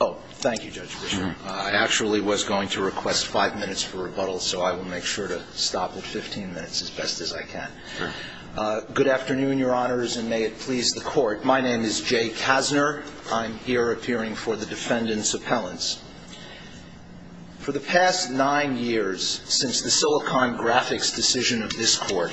Oh, thank you, Judge Bishop. I actually was going to request five minutes for rebuttal, so I will make sure to stop at 15 minutes as best as I can. Good afternoon, your honors, and may it please the court. My name is Jay Kassner. I'm here appearing for the defendant's appellants. For the past nine years, since the Silicon Graphics decision of this court,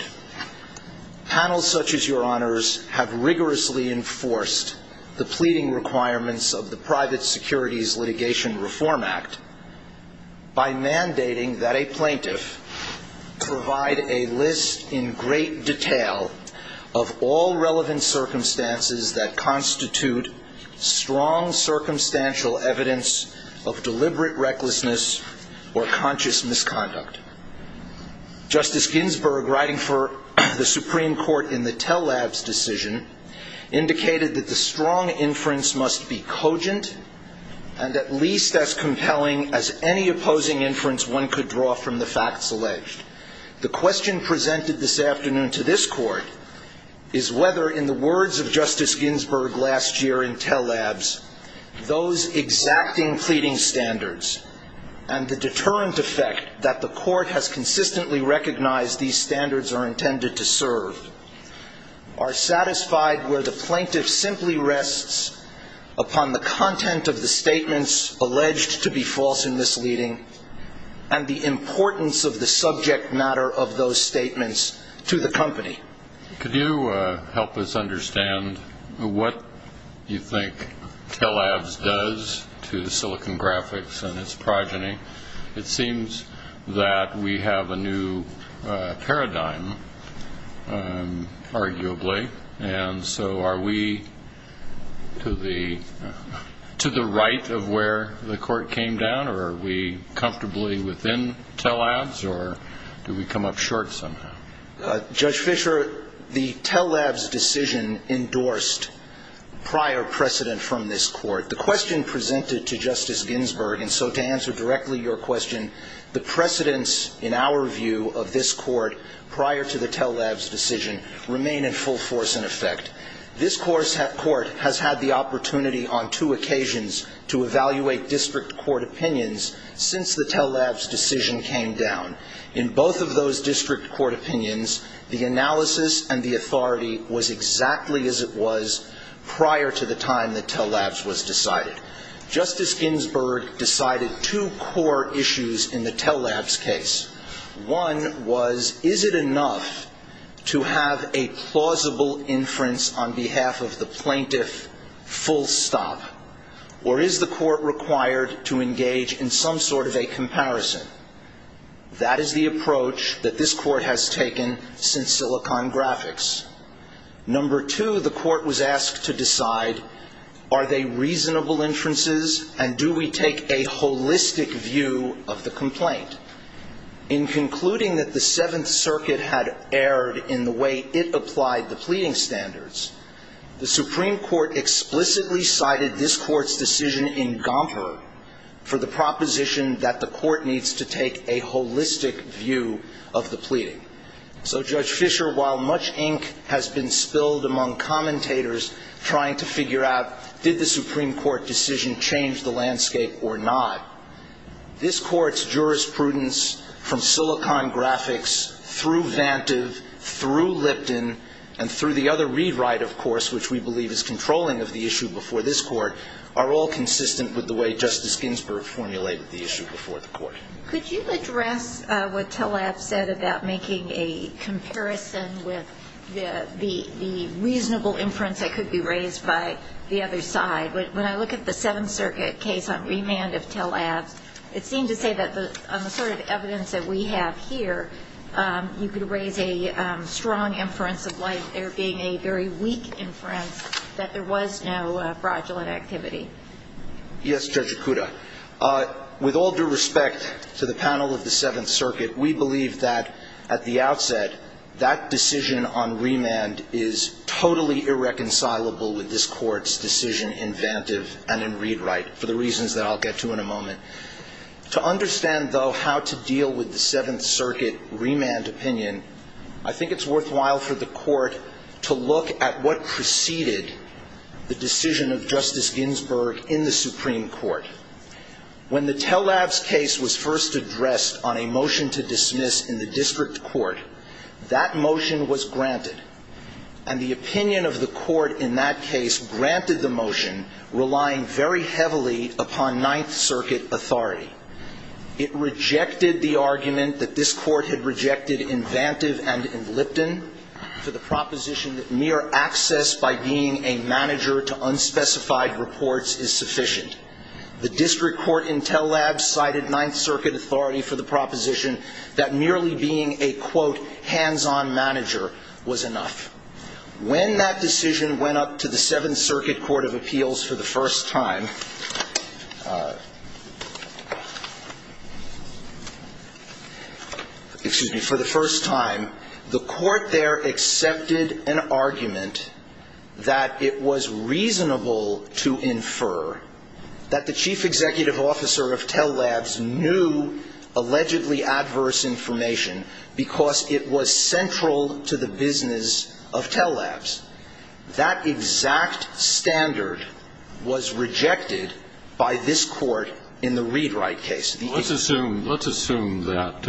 panels such as your honors have rigorously enforced the pleading requirements of the Private Securities Litigation Reform Act by mandating that a plaintiff provide a list in great detail of all relevant circumstances that constitute strong circumstantial evidence of deliberate recklessness or conscious misconduct. Justice Ginsburg, writing for the Supreme Court in the Tell Labs decision, indicated that the strong inference must be cogent and at least as compelling as any opposing inference one could draw from the facts alleged. The question presented this afternoon to this court is whether, in the words of Justice Ginsburg last year in Tell Labs, those exacting pleading standards and the deterrent effect that the court has consistently recognized these standards are intended to serve are satisfied where the plaintiff simply rests upon the content of the statements alleged to be false and misleading and the importance of the subject matter of those statements to the company. Could you help us understand what you think Tell Labs does to Silicon Graphics and its progeny? It seems that we have a new paradigm, arguably. And so are we to the right of where the court came down? Or are we comfortably within Tell Labs? Or do we come up short somehow? Judge Fisher, the Tell Labs decision endorsed prior precedent from this court. The question presented to Justice Ginsburg, and so to answer directly your question, the precedents in our view of this court prior to the Tell Labs decision remain in full force and effect. This court has had the opportunity on two occasions to evaluate district court opinions since the Tell Labs decision came down. In both of those district court opinions, the analysis and the authority was exactly as it was prior to the time that Tell Labs was decided. Justice Ginsburg decided two core issues in the Tell Labs case. One was, is it enough to have a plausible inference on behalf of the plaintiff full stop? Or is the court required to engage in some sort of a comparison? That is the approach that this court has taken since Silicon Graphics. Number two, the court was asked to decide, are they reasonable inferences, and do we take a holistic view of the complaint? In concluding that the Seventh Circuit had erred in the way it applied the pleading standards, the Supreme Court explicitly cited this court's decision in Gomper for the proposition that the court needs to take a holistic view of the pleading. So Judge Fisher, while much ink has been spilled among commentators trying to figure out, did the Supreme Court decision change the landscape or not, this court's jurisprudence from Silicon Graphics through Vantive, through Lipton, and through the other rewrite, of course, which we believe is controlling of the issue before this court, are all consistent with the way Justice Ginsburg formulated the issue before the court. Could you address what Tell Labs said about making a comparison with the reasonable inference that could be raised by the other side? When I look at the Seventh Circuit case on remand of Tell Labs, it seemed to say that on the sort of evidence that we have here, you could raise a strong inference of why there being a very weak inference, that there was no fraudulent activity. Yes, Judge Ikuda. With all due respect to the panel of the Seventh Circuit, we believe that, at the outset, that decision on remand is totally irreconcilable with this court's decision in Vantive and in ReadWrite, for the reasons that I'll get to in a moment. To understand, though, how to deal with the Seventh Circuit remand opinion, I think it's worthwhile for the court to look at what preceded the decision of Justice Ginsburg in the Supreme Court. When the Tell Labs case was first addressed on a motion to dismiss in the district court, that motion was granted. And the opinion of the court in that case granted the motion, relying very heavily upon Ninth Circuit authority. It rejected the argument that this court had rejected in Vantive and in Lipton for the proposition that mere access by being a manager to unspecified reports is sufficient. The district court in Tell Labs cited Ninth Circuit authority for the proposition that merely being a, quote, hands-on manager was enough. When that decision went up to the Seventh Circuit Court of Appeals for the first time, the court there accepted an argument that it was reasonable to infer that the chief executive officer of Tell Labs knew allegedly adverse information because it was central to the business of Tell Labs. That exact standard was rejected by this court in the ReadWrite case. Let's assume that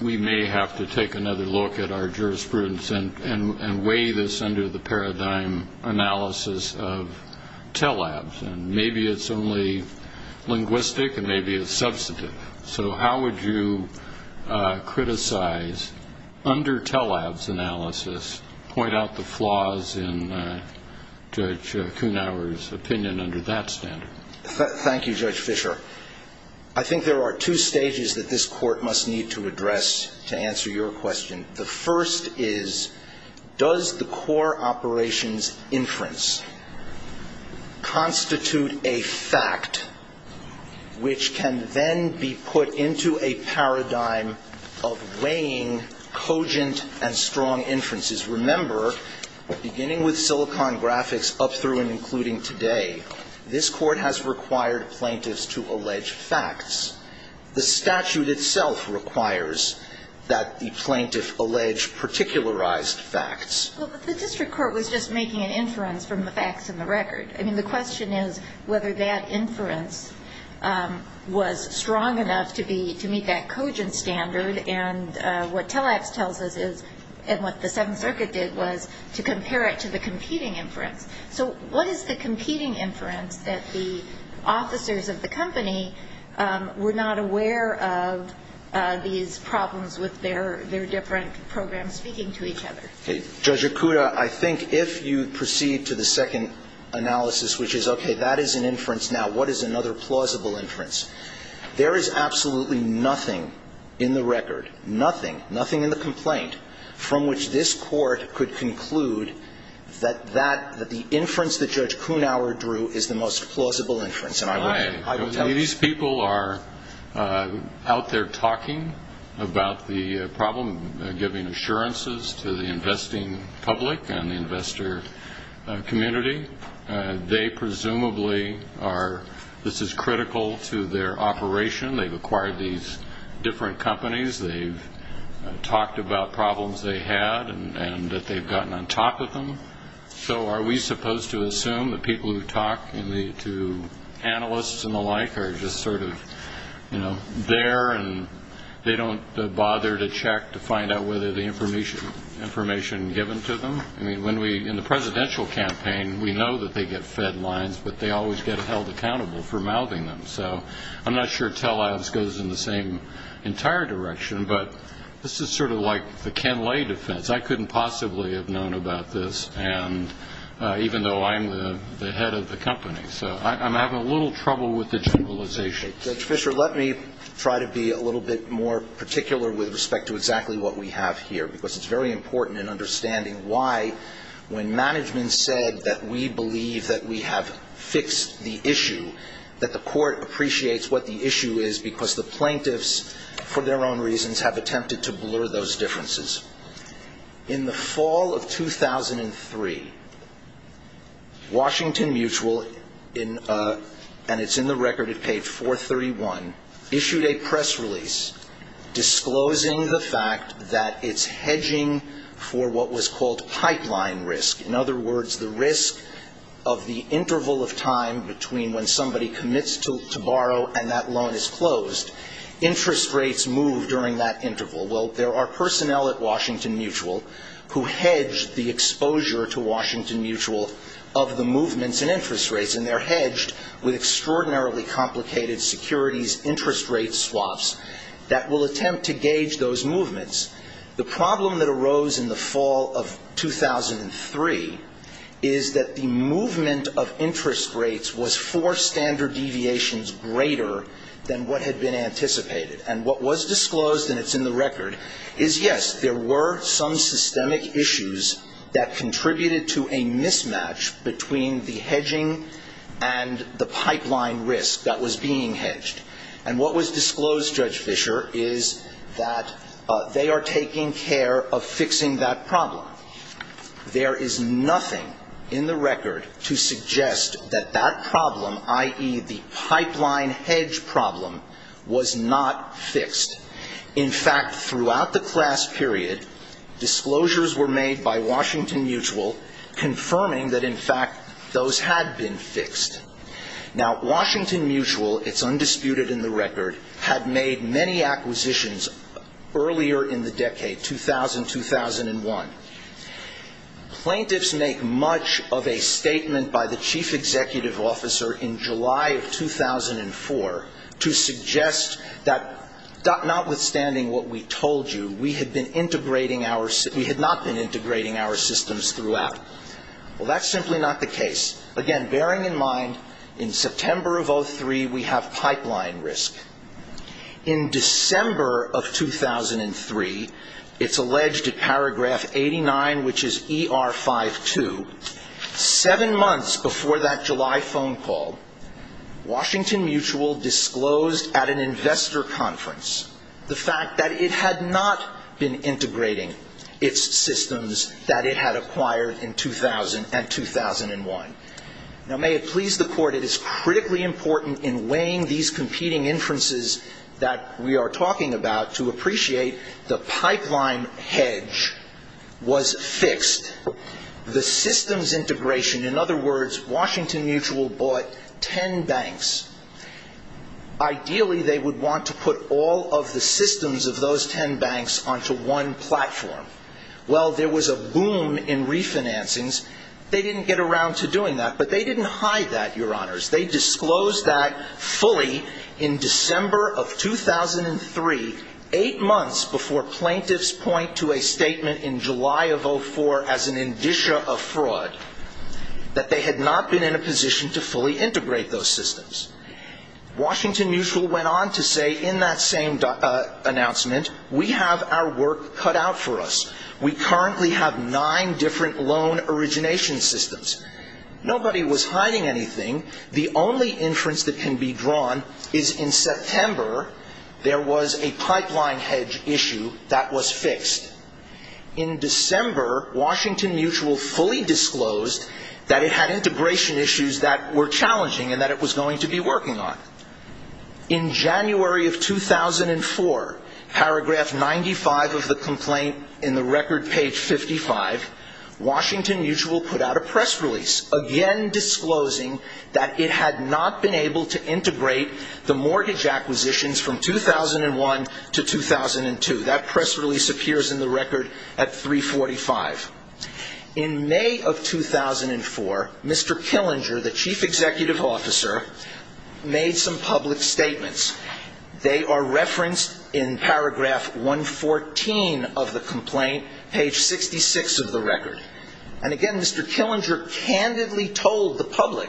we may have to take another look at our jurisprudence and weigh this under the paradigm analysis of Tell Labs. Maybe it's only linguistic, and maybe it's substantive. So how would you criticize, under Tell Labs analysis, point out the flaws in Judge Kuhnhauer's opinion under that standard? Thank you, Judge Fisher. I think there are two stages that this court must need to address to answer your question. The first is, does the core operations inference constitute a fact which can then be put into a paradigm of weighing cogent and strong inferences? Remember, beginning with Silicon Graphics, up through and including today, this court has required plaintiffs to allege facts. The statute itself requires that the plaintiff allege particularized facts. Well, but the district court was just making an inference from the facts in the record. I mean, the question is whether that inference was strong enough to meet that cogent standard. And what Tell Labs tells us is, and what the Seventh Circuit did, was to compare it to the competing inference. So what is the competing inference that the officers of the company were not aware of these problems with their different programs speaking to each other? Judge Okuda, I think if you proceed to the second analysis, which is, OK, that is an inference. Now, what is another plausible inference? There is absolutely nothing in the record, nothing, nothing in the complaint, from which this court could conclude that the inference that Judge Kunawer drew is the most plausible inference. And I will tell you. These people are out there talking about the problem, giving assurances to the investing public and the investor community. They presumably are, this is critical to their operation. They've acquired these different companies. They've talked about problems they had and that they've gotten on top of them. So are we supposed to assume that people who talk to analysts and the like are just sort of there and they don't bother to check to find out whether the information given to them? I mean, in the presidential campaign, we know that they get fed lines. But they always get held accountable for mouthing them. So I'm not sure tell-abs goes in the same entire direction. But this is sort of like the Ken Lay defense. I couldn't possibly have known about this, even though I'm the head of the company. So I'm having a little trouble with the generalization. Judge Fischer, let me try to be a little bit more particular with respect to exactly what we have here, because it's very important in understanding why, when management said that we believe that we have fixed the issue, that the court appreciates what the issue is because the plaintiffs, for their own reasons, have attempted to blur those differences. In the fall of 2003, Washington Mutual, and it's in the record, it's page 431, issued a press release disclosing the fact that it's hedging for what was called pipeline risk. In other words, the risk of the interval of time between when somebody commits to borrow and that loan is closed, interest rates move during that interval. Well, there are personnel at Washington Mutual who hedge the exposure to Washington Mutual of the movements and interest rates. And they're hedged with extraordinarily complicated securities interest rate swaps that will attempt to gauge those movements. The problem that arose in the fall of 2003 is that the movement of interest rates was four standard deviations greater than what had been anticipated. And what was disclosed, and it's in the record, is yes, there were some systemic issues that and the pipeline risk that was being hedged. And what was disclosed, Judge Fischer, is that they are taking care of fixing that problem. There is nothing in the record to suggest that that problem, i.e. the pipeline hedge problem, was not fixed. In fact, throughout the class period, disclosures were made by Washington Mutual confirming that, in fact, those had been fixed. Now, Washington Mutual, it's undisputed in the record, had made many acquisitions earlier in the decade, 2000, 2001. Plaintiffs make much of a statement by the chief executive officer in July of 2004 to suggest that notwithstanding what we told you, we had not been integrating our systems throughout. Well, that's simply not the case. Again, bearing in mind, in September of 2003, we have pipeline risk. In December of 2003, it's alleged in paragraph 89, which is ER 52, seven months before that July phone call, Washington Mutual disclosed at an investor conference the fact that it had not been integrating its systems that it had acquired in 2000 and 2001. Now, may it please the court, it is critically important in weighing these competing inferences that we are talking about to appreciate the pipeline hedge was fixed. The systems integration, in other words, Washington Mutual bought 10 banks. Ideally, they would want to put all of the systems of those 10 banks onto one platform. Well, there was a boom in refinancings. They didn't get around to doing that, but they didn't hide that, Your Honors. They disclosed that fully in December of 2003, eight months before plaintiffs point to a statement in July of 2004 as an indicia of fraud, that they had not been in a position to fully integrate those systems. Washington Mutual went on to say in that same announcement, we have our work cut out for us. We currently have nine different loan origination systems. Nobody was hiding anything. The only inference that can be drawn is in September, there was a pipeline hedge issue that was fixed. In December, Washington Mutual fully disclosed that it had integration issues that were challenging and that it was going to be working on. In January of 2004, paragraph 95 of the complaint in the record page 55, Washington Mutual put out a press release, again disclosing that it had not been able to integrate the mortgage acquisitions from 2001 to 2002. That press release appears in the record at 345. In May of 2004, Mr. Killinger, the chief executive officer, made some public statements. They are referenced in paragraph 114 of the complaint, page 66 of the record. And again, Mr. Killinger candidly told the public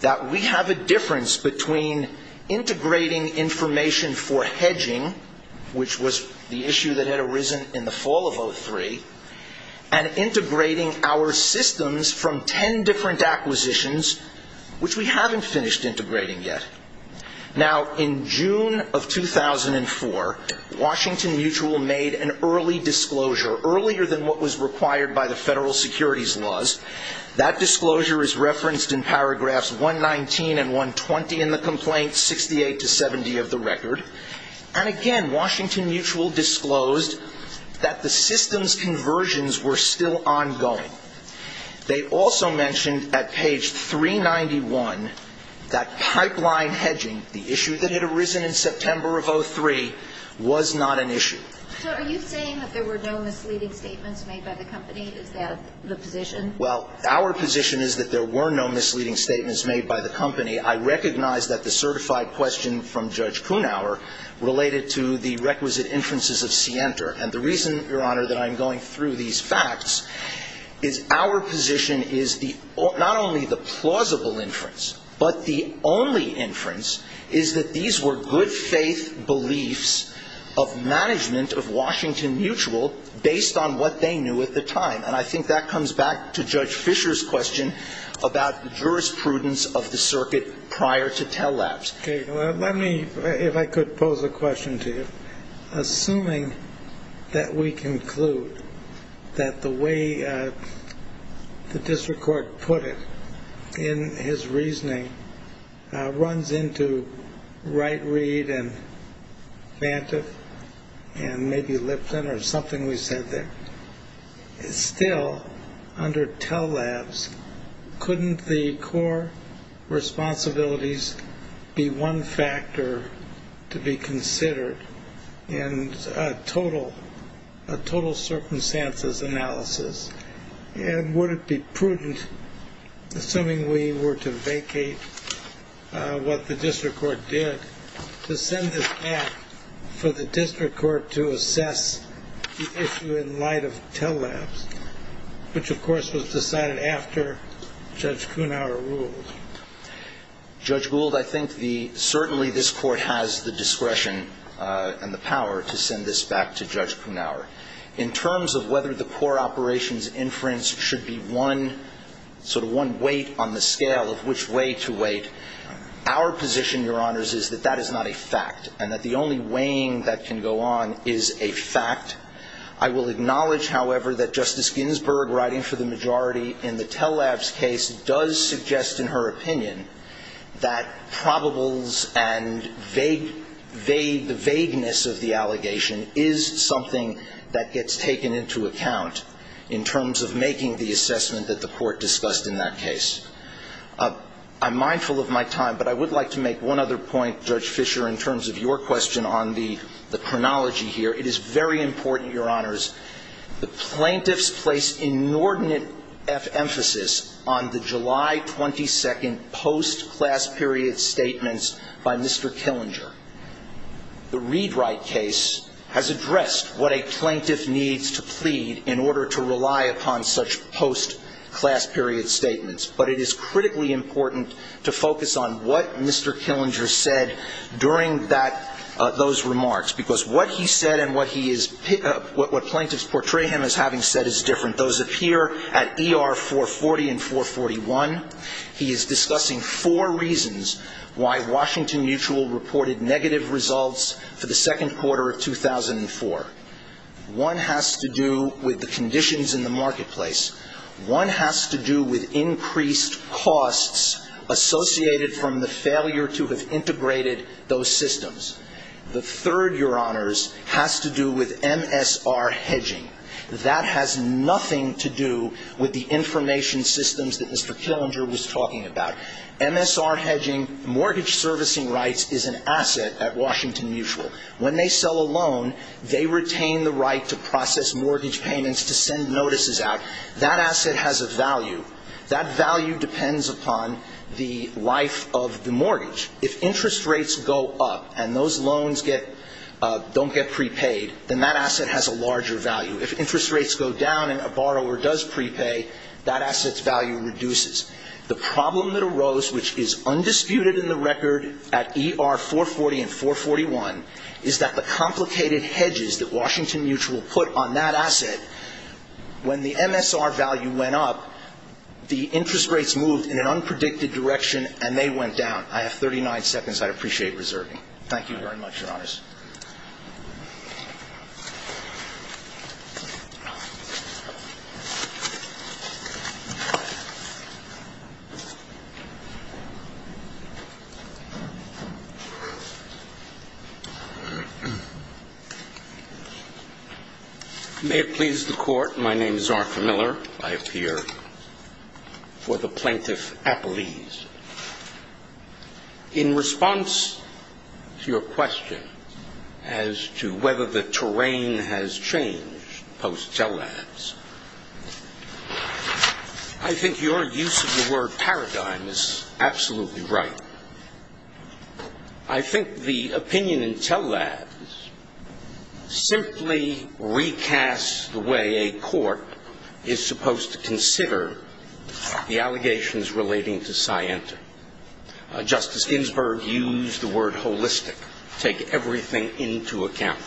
that we have a difference between integrating information for hedging, which was the issue that arisen in the fall of 03, and integrating our systems from 10 different acquisitions, which we haven't finished integrating yet. Now, in June of 2004, Washington Mutual made an early disclosure, earlier than what was required by the federal securities laws. That disclosure is referenced in paragraphs 119 and 120 in the complaint, 68 to 70 of the record. And again, Washington Mutual disclosed that the systems conversions were still ongoing. They also mentioned at page 391 that pipeline hedging, the issue that had arisen in September of 03, was not an issue. So are you saying that there were no misleading statements made by the company? Is that the position? Well, our position is that there were no misleading statements made by the company. I recognize that the certified question from Judge Kunauer related to the requisite inferences of Sienter. And the reason, Your Honor, that I'm going through these facts is our position is not only the plausible inference, but the only inference is that these were good faith beliefs of management of Washington Mutual based on what they knew at the time. And I think that comes back to Judge Fisher's question about the jurisprudence of the circuit prior to tell-labs. Let me, if I could, pose a question to you. Assuming that we conclude that the way the district court put it in his reasoning runs into Wright, Reed, and Vantoff, and maybe Lipton, or something we said there, still under tell-labs, couldn't the core responsibilities be one factor to be considered in a total circumstances analysis? And would it be prudent, assuming we were to vacate what the district court did, to send this back for the district court to assess the issue in light of tell-labs, which, of course, was decided after Judge Kunauer ruled? Judge Gould, I think certainly this court has the discretion and the power to send this back to Judge Kunauer. In terms of whether the core operations inference should be one weight on the scale of which way to weight, our position, Your Honors, is that that is not a fact, and that the only weighing that can go on is a fact. I will acknowledge, however, that Justice Ginsburg, writing for the majority in the tell-labs case, does suggest, in her opinion, that probables and the vagueness of the allegation is something that gets taken into account in terms of making the assessment that the court discussed in that case. I'm mindful of my time, but I would like to make one other point, Judge Fisher, in terms of your question on the chronology here. It is very important, Your Honors, the plaintiffs place inordinate emphasis on the July 22 post-class period statements by Mr. Killinger. The Read-Write case has addressed what a plaintiff needs to plead in order to rely upon such post-class period statements. But it is critically important to focus on what Mr. Killinger said during those remarks, because what he said and what plaintiffs portray him as having said is different. Those appear at ER 440 and 441. He is discussing four reasons why Washington Mutual reported negative results for the second quarter of 2004. One has to do with the conditions in the marketplace. One has to do with increased costs associated from the failure to have integrated those systems. The third, Your Honors, has to do with MSR hedging. That has nothing to do with the information systems that Mr. Killinger was talking about. MSR hedging, mortgage servicing rights, is an asset at Washington Mutual. When they sell a loan, they retain the right to process mortgage payments, to send notices out. That asset has a value. That value depends upon the life of the mortgage. If interest rates go up and those loans don't get prepaid, then that asset has a larger value. If interest rates go down and a borrower does prepay, that asset's value reduces. The problem that arose, which is undisputed in the record at ER 440 and 441, is that the complicated hedges that Washington Mutual put on that asset, when the MSR value went up, the interest rates moved in an unpredicted direction and they went down. I have 39 seconds. I'd appreciate reserving. Thank you very much, Your Honors. May it please the Court, my name is Arthur Miller. I appear for the Plaintiff Appellees. In response to your question as to whether the terrain has changed post-TELADS, I think your use of the word paradigm is absolutely right. I think the opinion in TELADS simply recasts the way a court is supposed to consider the allegations relating to Scienta. Justice Ginsburg used the word holistic, take everything into account.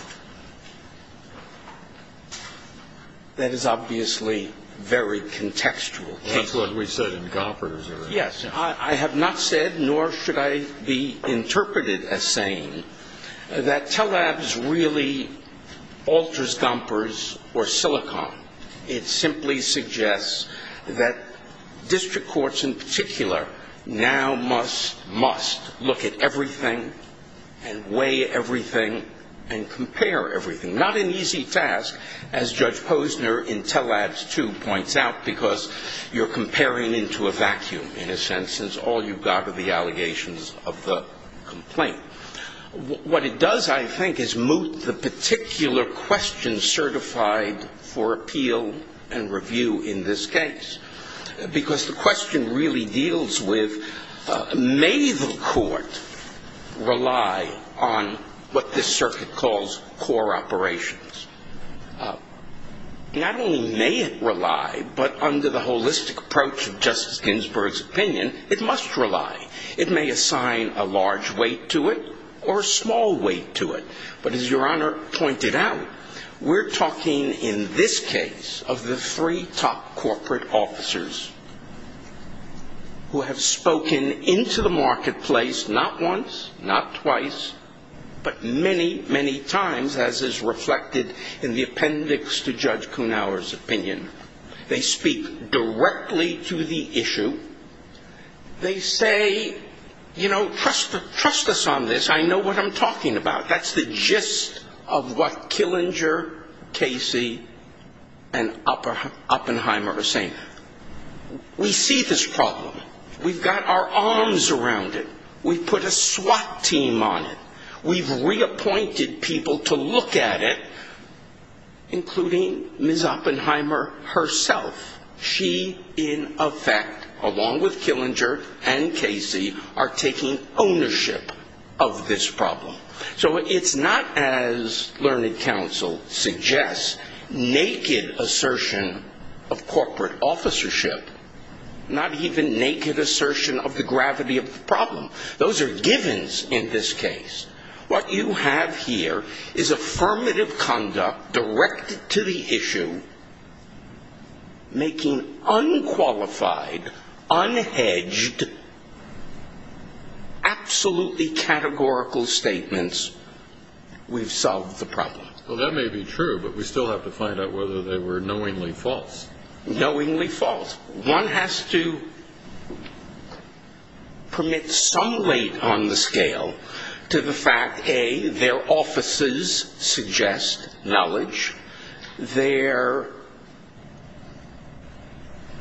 That is obviously very contextual. That's what we said in Gompers. Yes, I have not said, nor should I be interpreted as saying, that TELADS really alters Gompers or Silicon. It simply suggests that district courts in particular now must look at everything, and weigh everything, and compare everything. Not an easy task, as Judge Posner in TELADS 2 points out, because you're comparing into a vacuum, in a sense, since all you've got are the allegations of the complaint. What it does, I think, is moot the particular question certified for appeal and review in this case. Because the question really deals with, may the court rely on what this circuit calls core operations? Not only may it rely, but under the holistic approach of Justice Ginsburg's opinion, it must rely. It may assign a large weight to it, or a small weight to it. But as Your Honor pointed out, we're talking, in this case, of the three top corporate officers who have spoken into the marketplace, not once, not twice, but many, many times, as is reflected in the appendix to Judge Kuhnhauer's opinion. They speak directly to the issue. They say, you know, trust us on this. I know what I'm talking about. That's the gist of what Killinger, Casey, and Oppenheimer are saying. We see this problem. We've got our arms around it. We've put a SWAT team on it. We've reappointed people to look at it, including Ms. Oppenheimer herself. She, in effect, along with Killinger and Casey, are taking ownership of this problem. So it's not, as learned counsel suggests, naked assertion of corporate officership, not even naked assertion of the gravity of the problem. Those are givens in this case. What you have here is affirmative conduct directed to the issue, making unqualified, unhedged, absolutely categorical statements, we've solved the problem. Well, that may be true, but we still have to find out whether they were knowingly false. Knowingly false. One has to permit some weight on the scale to the fact, A, their offices suggest knowledge, their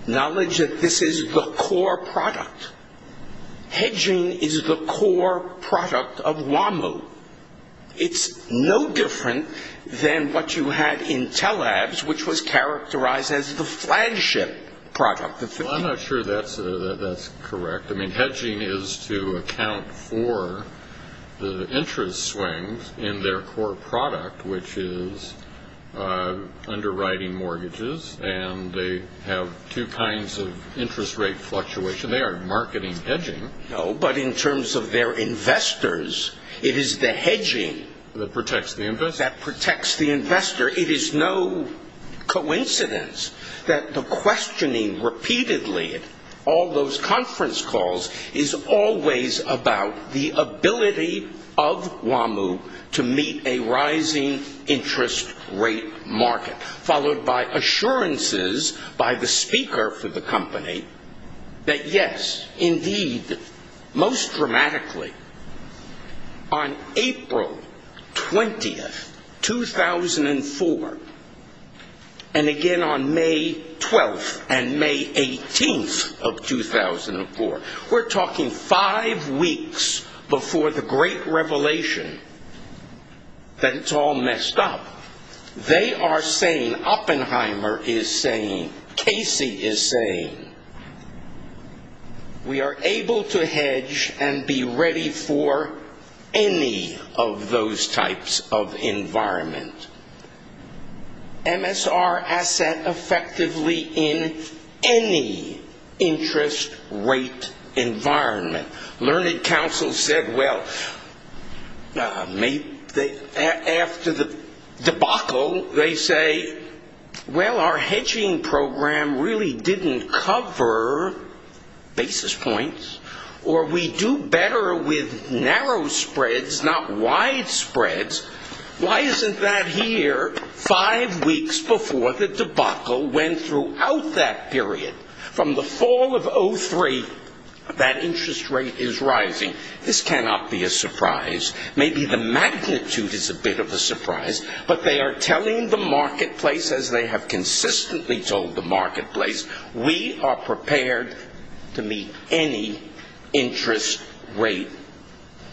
knowledge that this is the core product. Hedging is the core product of WAMU. It's no different than what you had in TELABS, which was characterized as the flagship product. Well, I'm not sure that's correct. I mean, hedging is to account for the interest swings in their core product, which is underwriting mortgages, and they have two kinds of interest rate fluctuation. They are marketing hedging. No, but in terms of their investors, it is the hedging that protects the investor. It is no coincidence that the questioning repeatedly all those conference calls is always about the ability of WAMU to meet a rising interest rate market, followed by assurances by the speaker for the company that yes, indeed, most dramatically, on April 20, 2004, and again on May 12 and May 18 of 2004, we're talking five weeks before the great revelation that it's all messed up. They are saying, Oppenheimer is saying, Casey is saying, we are able to hedge and be ready for any of those types of environment. MSR asset effectively in any interest rate environment. Learning Council said, well, after the debacle, they say, well, our hedging program really didn't cover basis points, or we do better with narrow spreads, not wide spreads. Why isn't that here five weeks before the debacle, when throughout that period, from the fall of 2003, that interest rate is rising? This cannot be a surprise. Maybe the magnitude is a bit of a surprise, but they are telling the marketplace, as they have consistently told the marketplace, we are prepared to meet any interest rate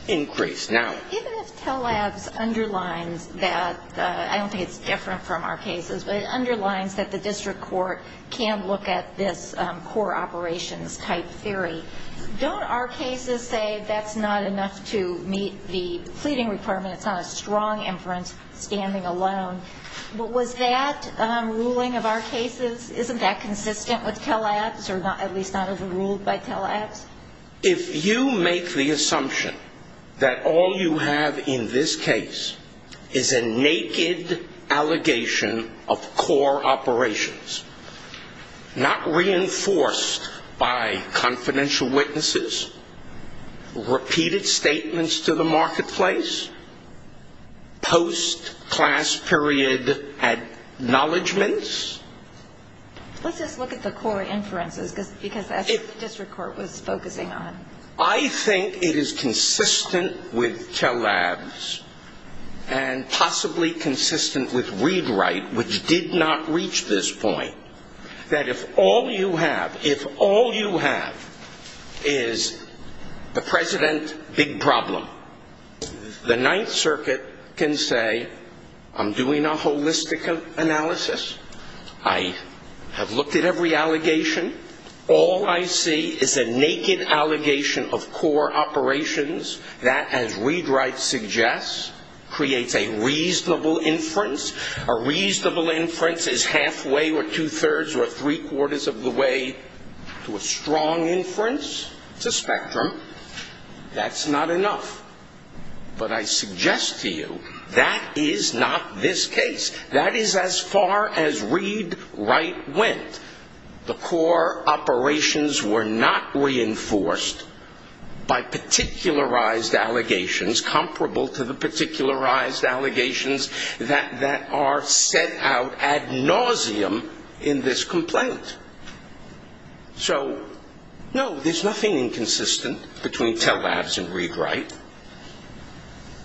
increase. Even if Telabs underlines that, I don't think it's different from our cases, but it underlines that the district court can look at this core operations type theory, don't our cases say that's not enough to meet the pleading requirement? It's not a strong inference standing alone. But was that ruling of our cases, isn't that consistent with Telabs, or at least not as ruled by Telabs? If you make the assumption that all you have in this case is a naked allegation of core operations, not reinforced by confidential witnesses, repeated statements to the marketplace, post-class period acknowledgements. Let's just look at the core inferences, because that's what the district court was focusing on. I think it is consistent with Telabs, and possibly consistent with ReadWrite, which did not reach this point. That if all you have, if all you have is the president big problem, the Ninth Circuit can say, I'm doing a holistic analysis. I have looked at every allegation. All I see is a naked allegation of core operations that, as ReadWrite suggests, creates a reasonable inference. A reasonable inference is halfway, or 2 thirds, or 3 quarters of the way to a strong inference. It's a spectrum. That's not enough. But I suggest to you, that is not this case. That is as far as ReadWrite went. The core operations were not reinforced by particularized allegations comparable to the particularized allegations that are set out ad nauseum in this complaint. So no, there's nothing inconsistent between Telabs and ReadWrite.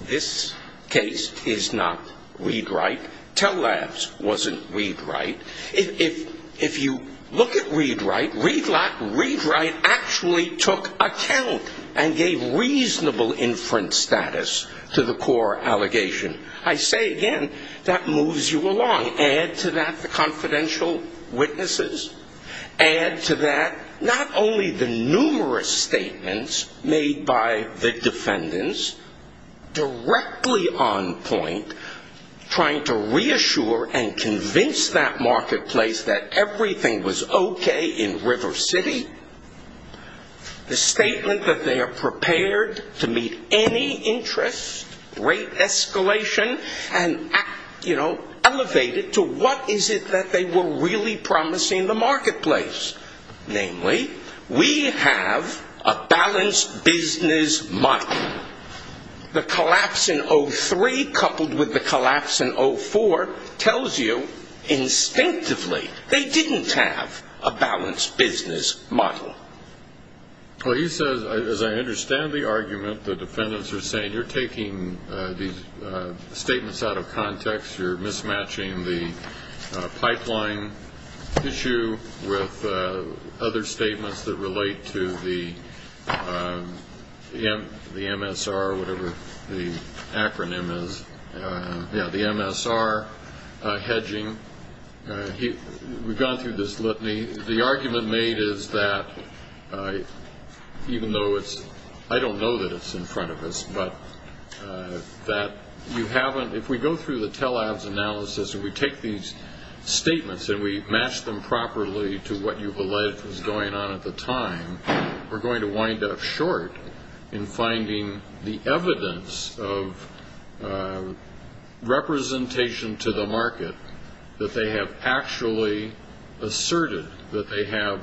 This case is not ReadWrite. Telabs wasn't ReadWrite. If you look at ReadWrite, ReadWrite actually took account and gave reasonable inference status to the core allegation. I say again, that moves you along. Add to that the confidential witnesses. Add to that not only the numerous statements made by the defendants directly on point, trying to reassure and convince that marketplace that everything was OK in River City. The statement that they are prepared to meet any interest, rate escalation, and elevate it to what is it that they were really promising the marketplace? Namely, we have a balanced business model. The collapse in 03 coupled with the collapse in 04 tells you instinctively they didn't have a balanced business model. Well, he says, as I understand the argument, the defendants are saying you're taking these statements out of context. You're mismatching the pipeline issue with other statements that relate to the MSR hedging. We've gone through this litany. The argument made is that even though it's, I don't know that it's in front of us, but that you haven't, if we go through the Telabs analysis and we take these statements and we match them properly to what you've alleged was going on at the time, we're going to wind up short in finding the evidence of representation to the market that they have actually asserted that they have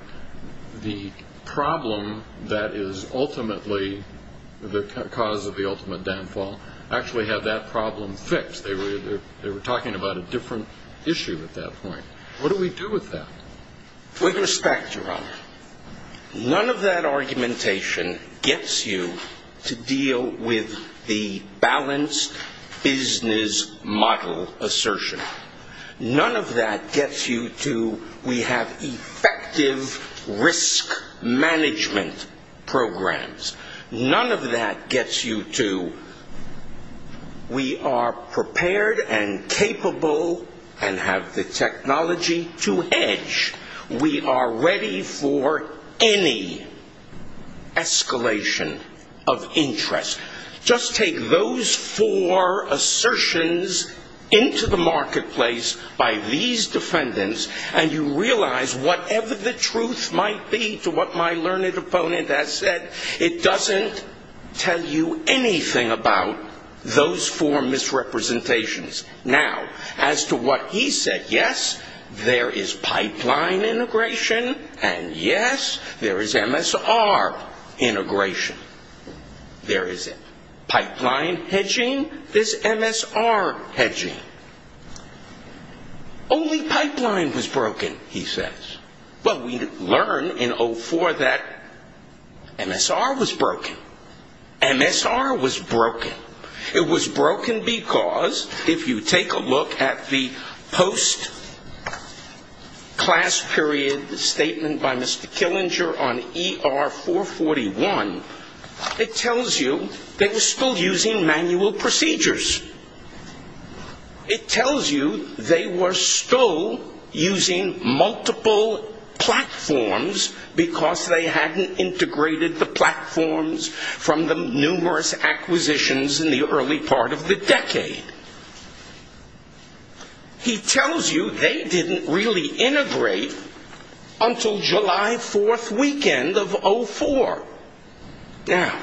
the problem that is ultimately the cause of the ultimate downfall actually have that problem fixed. They were talking about a different issue at that point. What do we do with that? With respect, Your Honor, none of that argumentation gets you to deal with the balanced business model assertion. None of that gets you to we have effective risk management programs. None of that gets you to we are prepared and capable and have the technology to hedge. We are ready for any escalation of interest. Just take those four assertions into the marketplace by these defendants and you realize whatever the truth might be to what my learned opponent has said, it doesn't tell you anything about those four misrepresentations. Now, as to what he said, yes, there is pipeline integration and yes, there is MSR integration. There is pipeline hedging, there's MSR hedging. Only pipeline was broken, he says. Well, we learned in 04 that MSR was broken. MSR was broken. It was broken because if you take a look at the post-class period statement by Mr. Killinger on ER 441, it tells you they were still using manual procedures. It tells you they were still using multiple platforms because they hadn't integrated the platforms from the numerous acquisitions in the early part of the decade. He tells you they didn't really integrate until July 4th weekend of 04. Now,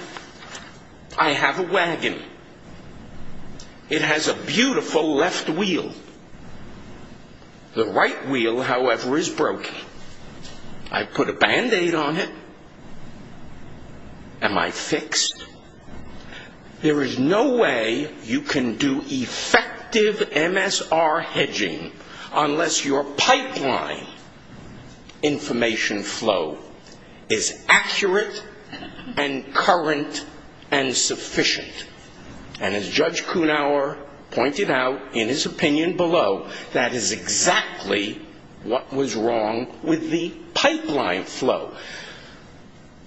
I have a wagon. It has a beautiful left wheel. The right wheel, however, is broken. I put a Band-Aid on it. Am I fixed? There is no way you can do effective MSR hedging unless your pipeline information flow is accurate and current and sufficient. And as Judge Kunauer pointed out in his opinion below, that is exactly what was wrong with the pipeline flow.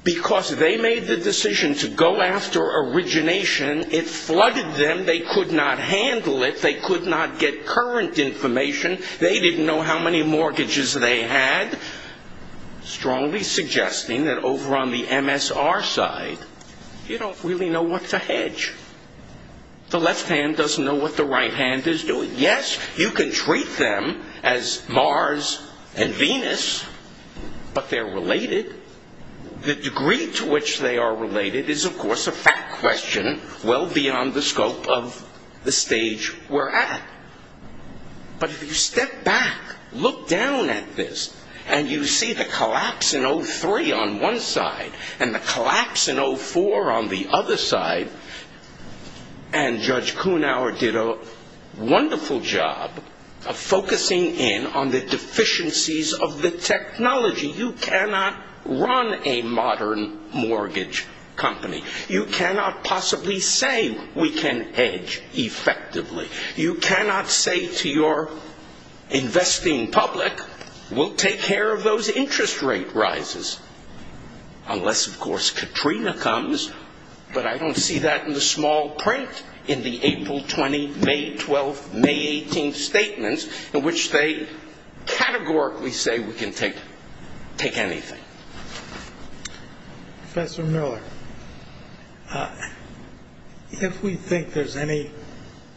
Because they made the decision to go after origination, it flooded them. They could not handle it. They could not get current information. They didn't know how many mortgages they had, strongly suggesting that over on the MSR side, you don't really know what to hedge. The left hand doesn't know what the right hand is doing. Yes, you can treat them as Mars and Venus, but they're related. The degree to which they are related is, of course, a fact question well beyond the scope of the stage we're at. But if you step back, look down at this, and you see the collapse in 03 on one side and the collapse in 04 on the other side, and Judge Kunauer did a wonderful job of focusing in on the deficiencies of the technology. You cannot run a modern mortgage company. You cannot possibly say we can hedge effectively. You cannot say to your investing public, we'll take care of those interest rate rises, unless, of course, Katrina comes. But I don't see that in the small print in the April 20, May 12, May 18 statements, in which they categorically say we can take anything. Professor Miller, if we think there's any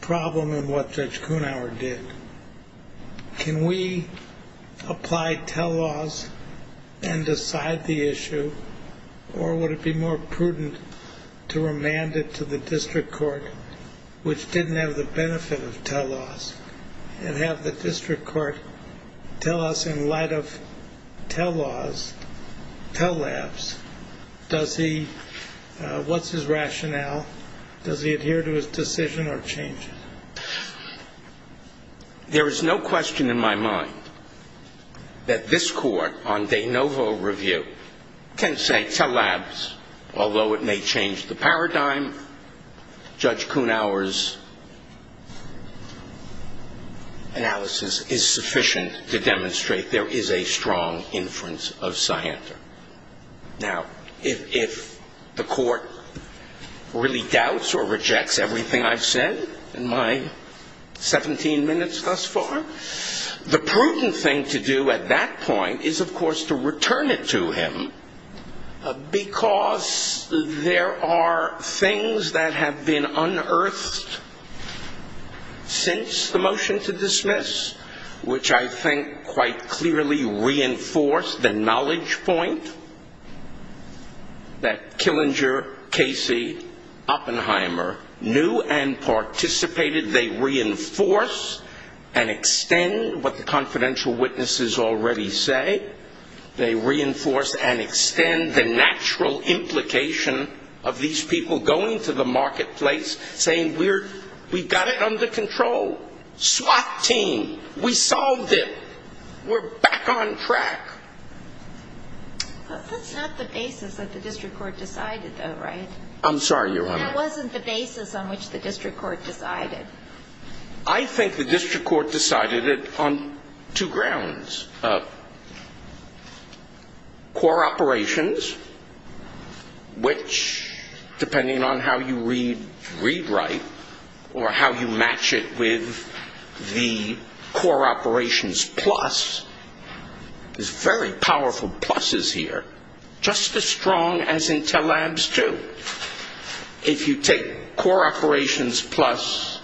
problem in what Judge Kunauer did, can we apply tell laws and decide the issue? Or would it be more prudent to remand it to the district court, which didn't have the benefit of tell laws, and have the district court tell us, in light of tell laws, tell labs, what's his rationale? Does he adhere to his decision or change it? There is no question in my mind that this court, on de novo review, can say tell labs, although it may change the paradigm. Judge Kunauer's analysis is sufficient to demonstrate there is a strong inference of scienter. Now, if the court really doubts or rejects everything I've said in my 17 minutes thus far, the prudent thing to do at that point is, of course, to return it to him, because there are things that have been unearthed since the motion to dismiss, which I think quite clearly reinforced the knowledge point that Killinger, Casey, Oppenheimer knew and participated. They reinforce and extend what the confidential witnesses already say. They reinforce and extend the natural implication of these people going to the marketplace, saying we've got it under control. SWAT team, we solved it. We're back on track. That's not the basis that the district court decided, though, right? I'm sorry, Your Honor. That wasn't the basis on which the district court decided. I think the district court decided it on two grounds. Core operations, which, depending on how you read, rewrite, or how you match it with the core operations plus, there's very powerful pluses here, just as strong as Intel Labs do. If you take core operations plus,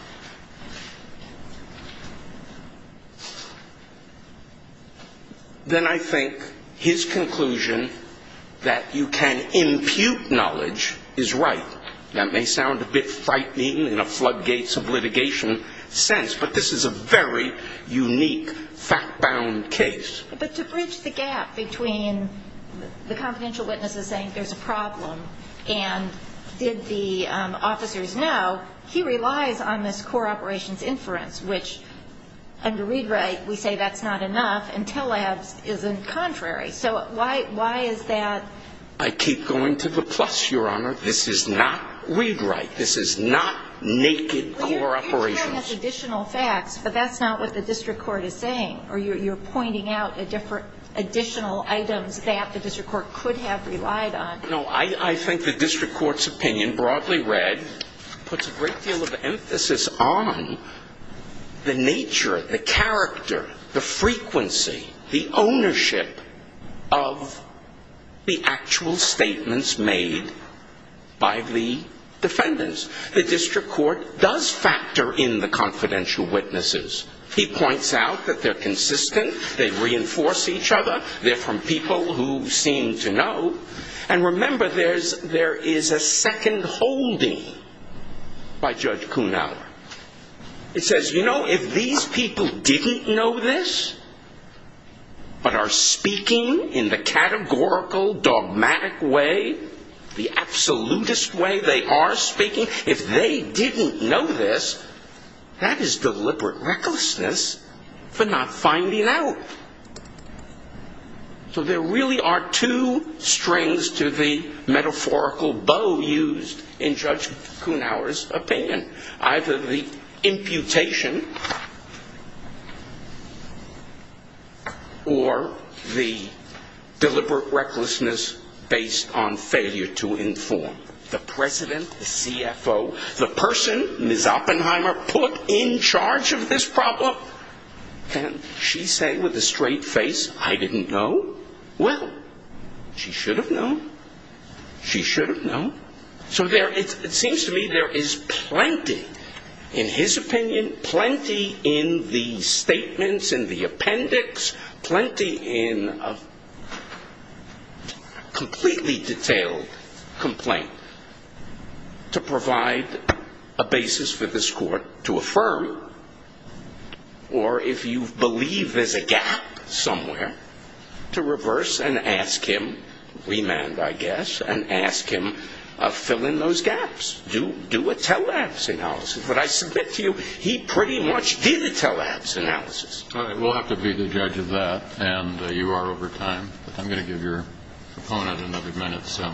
then I think his conclusion that you can impute knowledge is right. That may sound a bit frightening in a floodgates of litigation sense, but this is a very unique fact-bound case. But to bridge the gap between the confidential witnesses saying there's a problem and did the officers know, he relies on this core operations inference, which, under read-write, we say that's not enough. Intel Labs is in contrary. So why is that? I keep going to the plus, Your Honor. This is not read-write. This is not naked core operations. You're throwing out additional facts, but that's not what the district court is saying, or you're pointing out additional items that the district court could have relied on. No, I think the district court's opinion, broadly read, puts a great deal of emphasis on the nature, the character, the frequency, the ownership of the actual statements made by the defendants. The district court does factor in the confidential witnesses. He points out that they're consistent. They reinforce each other. They're from people who seem to know. And remember, there is a second holding by Judge Kuhnhauer. It says, you know, if these people didn't know this but are speaking in the categorical, dogmatic way, the absolutist way they are speaking, if they didn't know this, that is deliberate recklessness for not finding out. So there really are two strings to the metaphorical bow used in Judge Kuhnhauer's opinion, either the imputation or the deliberate recklessness based on failure to inform. The president, the CFO, the person, Ms. Oppenheimer, put in charge of this problem. And she's saying with a straight face, I didn't know. Well, she should have known. She should have known. So it seems to me there is plenty, in his opinion, plenty in the statements, in the appendix, plenty in a completely detailed complaint to provide a basis for this court to affirm. Or if you believe there's a gap somewhere, to reverse and ask him, remand, I guess, and ask him, fill in those gaps. Do a tele-abs analysis. But I submit to you, he pretty much did a tele-abs analysis. We'll have to be the judge of that. And you are over time. I'm going to give your opponent another minute. So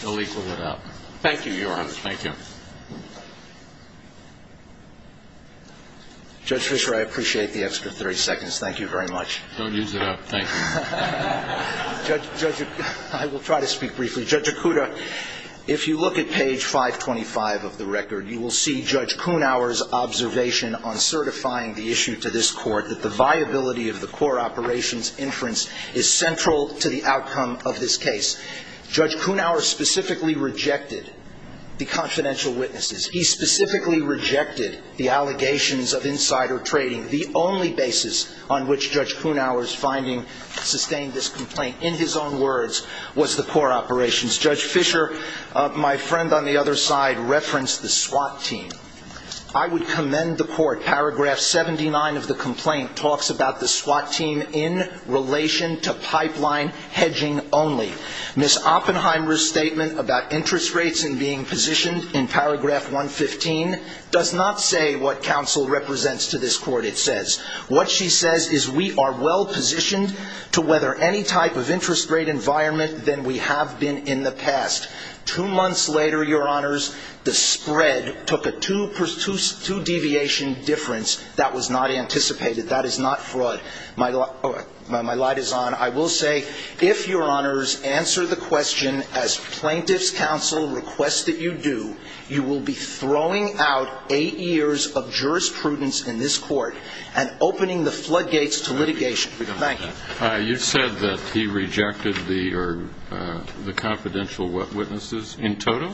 he'll equal it up. Thank you, Your Honor. Thank you. Judge Fisher, I appreciate the extra 30 seconds. Thank you very much. Don't use it up. Thank you. Judge, I will try to speak briefly. Judge Okuda, if you look at page 525 of the record, you will see Judge Kuhnauer's observation on certifying the issue to this court that the viability of the core operations inference is central to the outcome of this case. Judge Kuhnauer specifically rejected the confidential witnesses. He specifically rejected the allegations of insider trading. The only basis on which Judge Kuhnauer's finding sustained this complaint, in his own words, was the core operations. Judge Fisher, my friend on the other side, referenced the SWAT team. I would commend the court. Paragraph 79 of the complaint talks about the SWAT team in relation to pipeline hedging only. Ms. Oppenheimer's statement about interest rates and being positioned in paragraph 115 does not say what counsel represents to this court, it says. What she says is we are well positioned to weather any type of interest rate environment than we have been in the past. Two months later, Your Honors, the spread took a two deviation difference. That was not anticipated. That is not fraud. My light is on. I will say, if Your Honors answer the question as plaintiff's counsel requests that you do, you will be throwing out eight years of jurisprudence in this court and opening the floodgates to litigation. Thank you. You said that he rejected the confidential witnesses in total?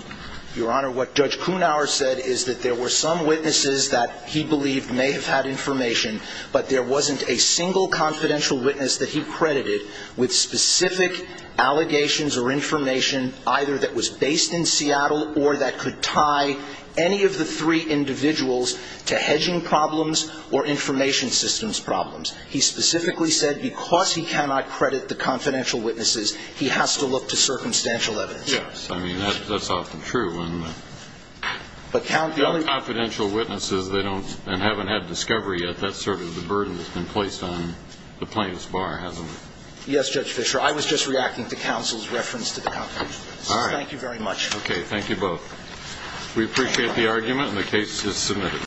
Your Honor, what Judge Kuhnauer said is that there were some witnesses that he believed may have had information, but there wasn't a single confidential witness that he credited with specific allegations or information either that was based in Seattle or that could tie any of the three individuals to hedging problems or information systems problems. He specifically said because he cannot credit the confidential witnesses, he has to look to circumstantial evidence. Yes. I mean, that's often true. But confidential witnesses, they don't and haven't had discovery yet. That's sort of the burden that's been placed on the plaintiff's bar, hasn't it? Yes, Judge Fischer. I was just reacting to counsel's reference to the confidential witnesses. All right. Thank you very much. OK. Thank you both. We appreciate the argument, and the case is submitted.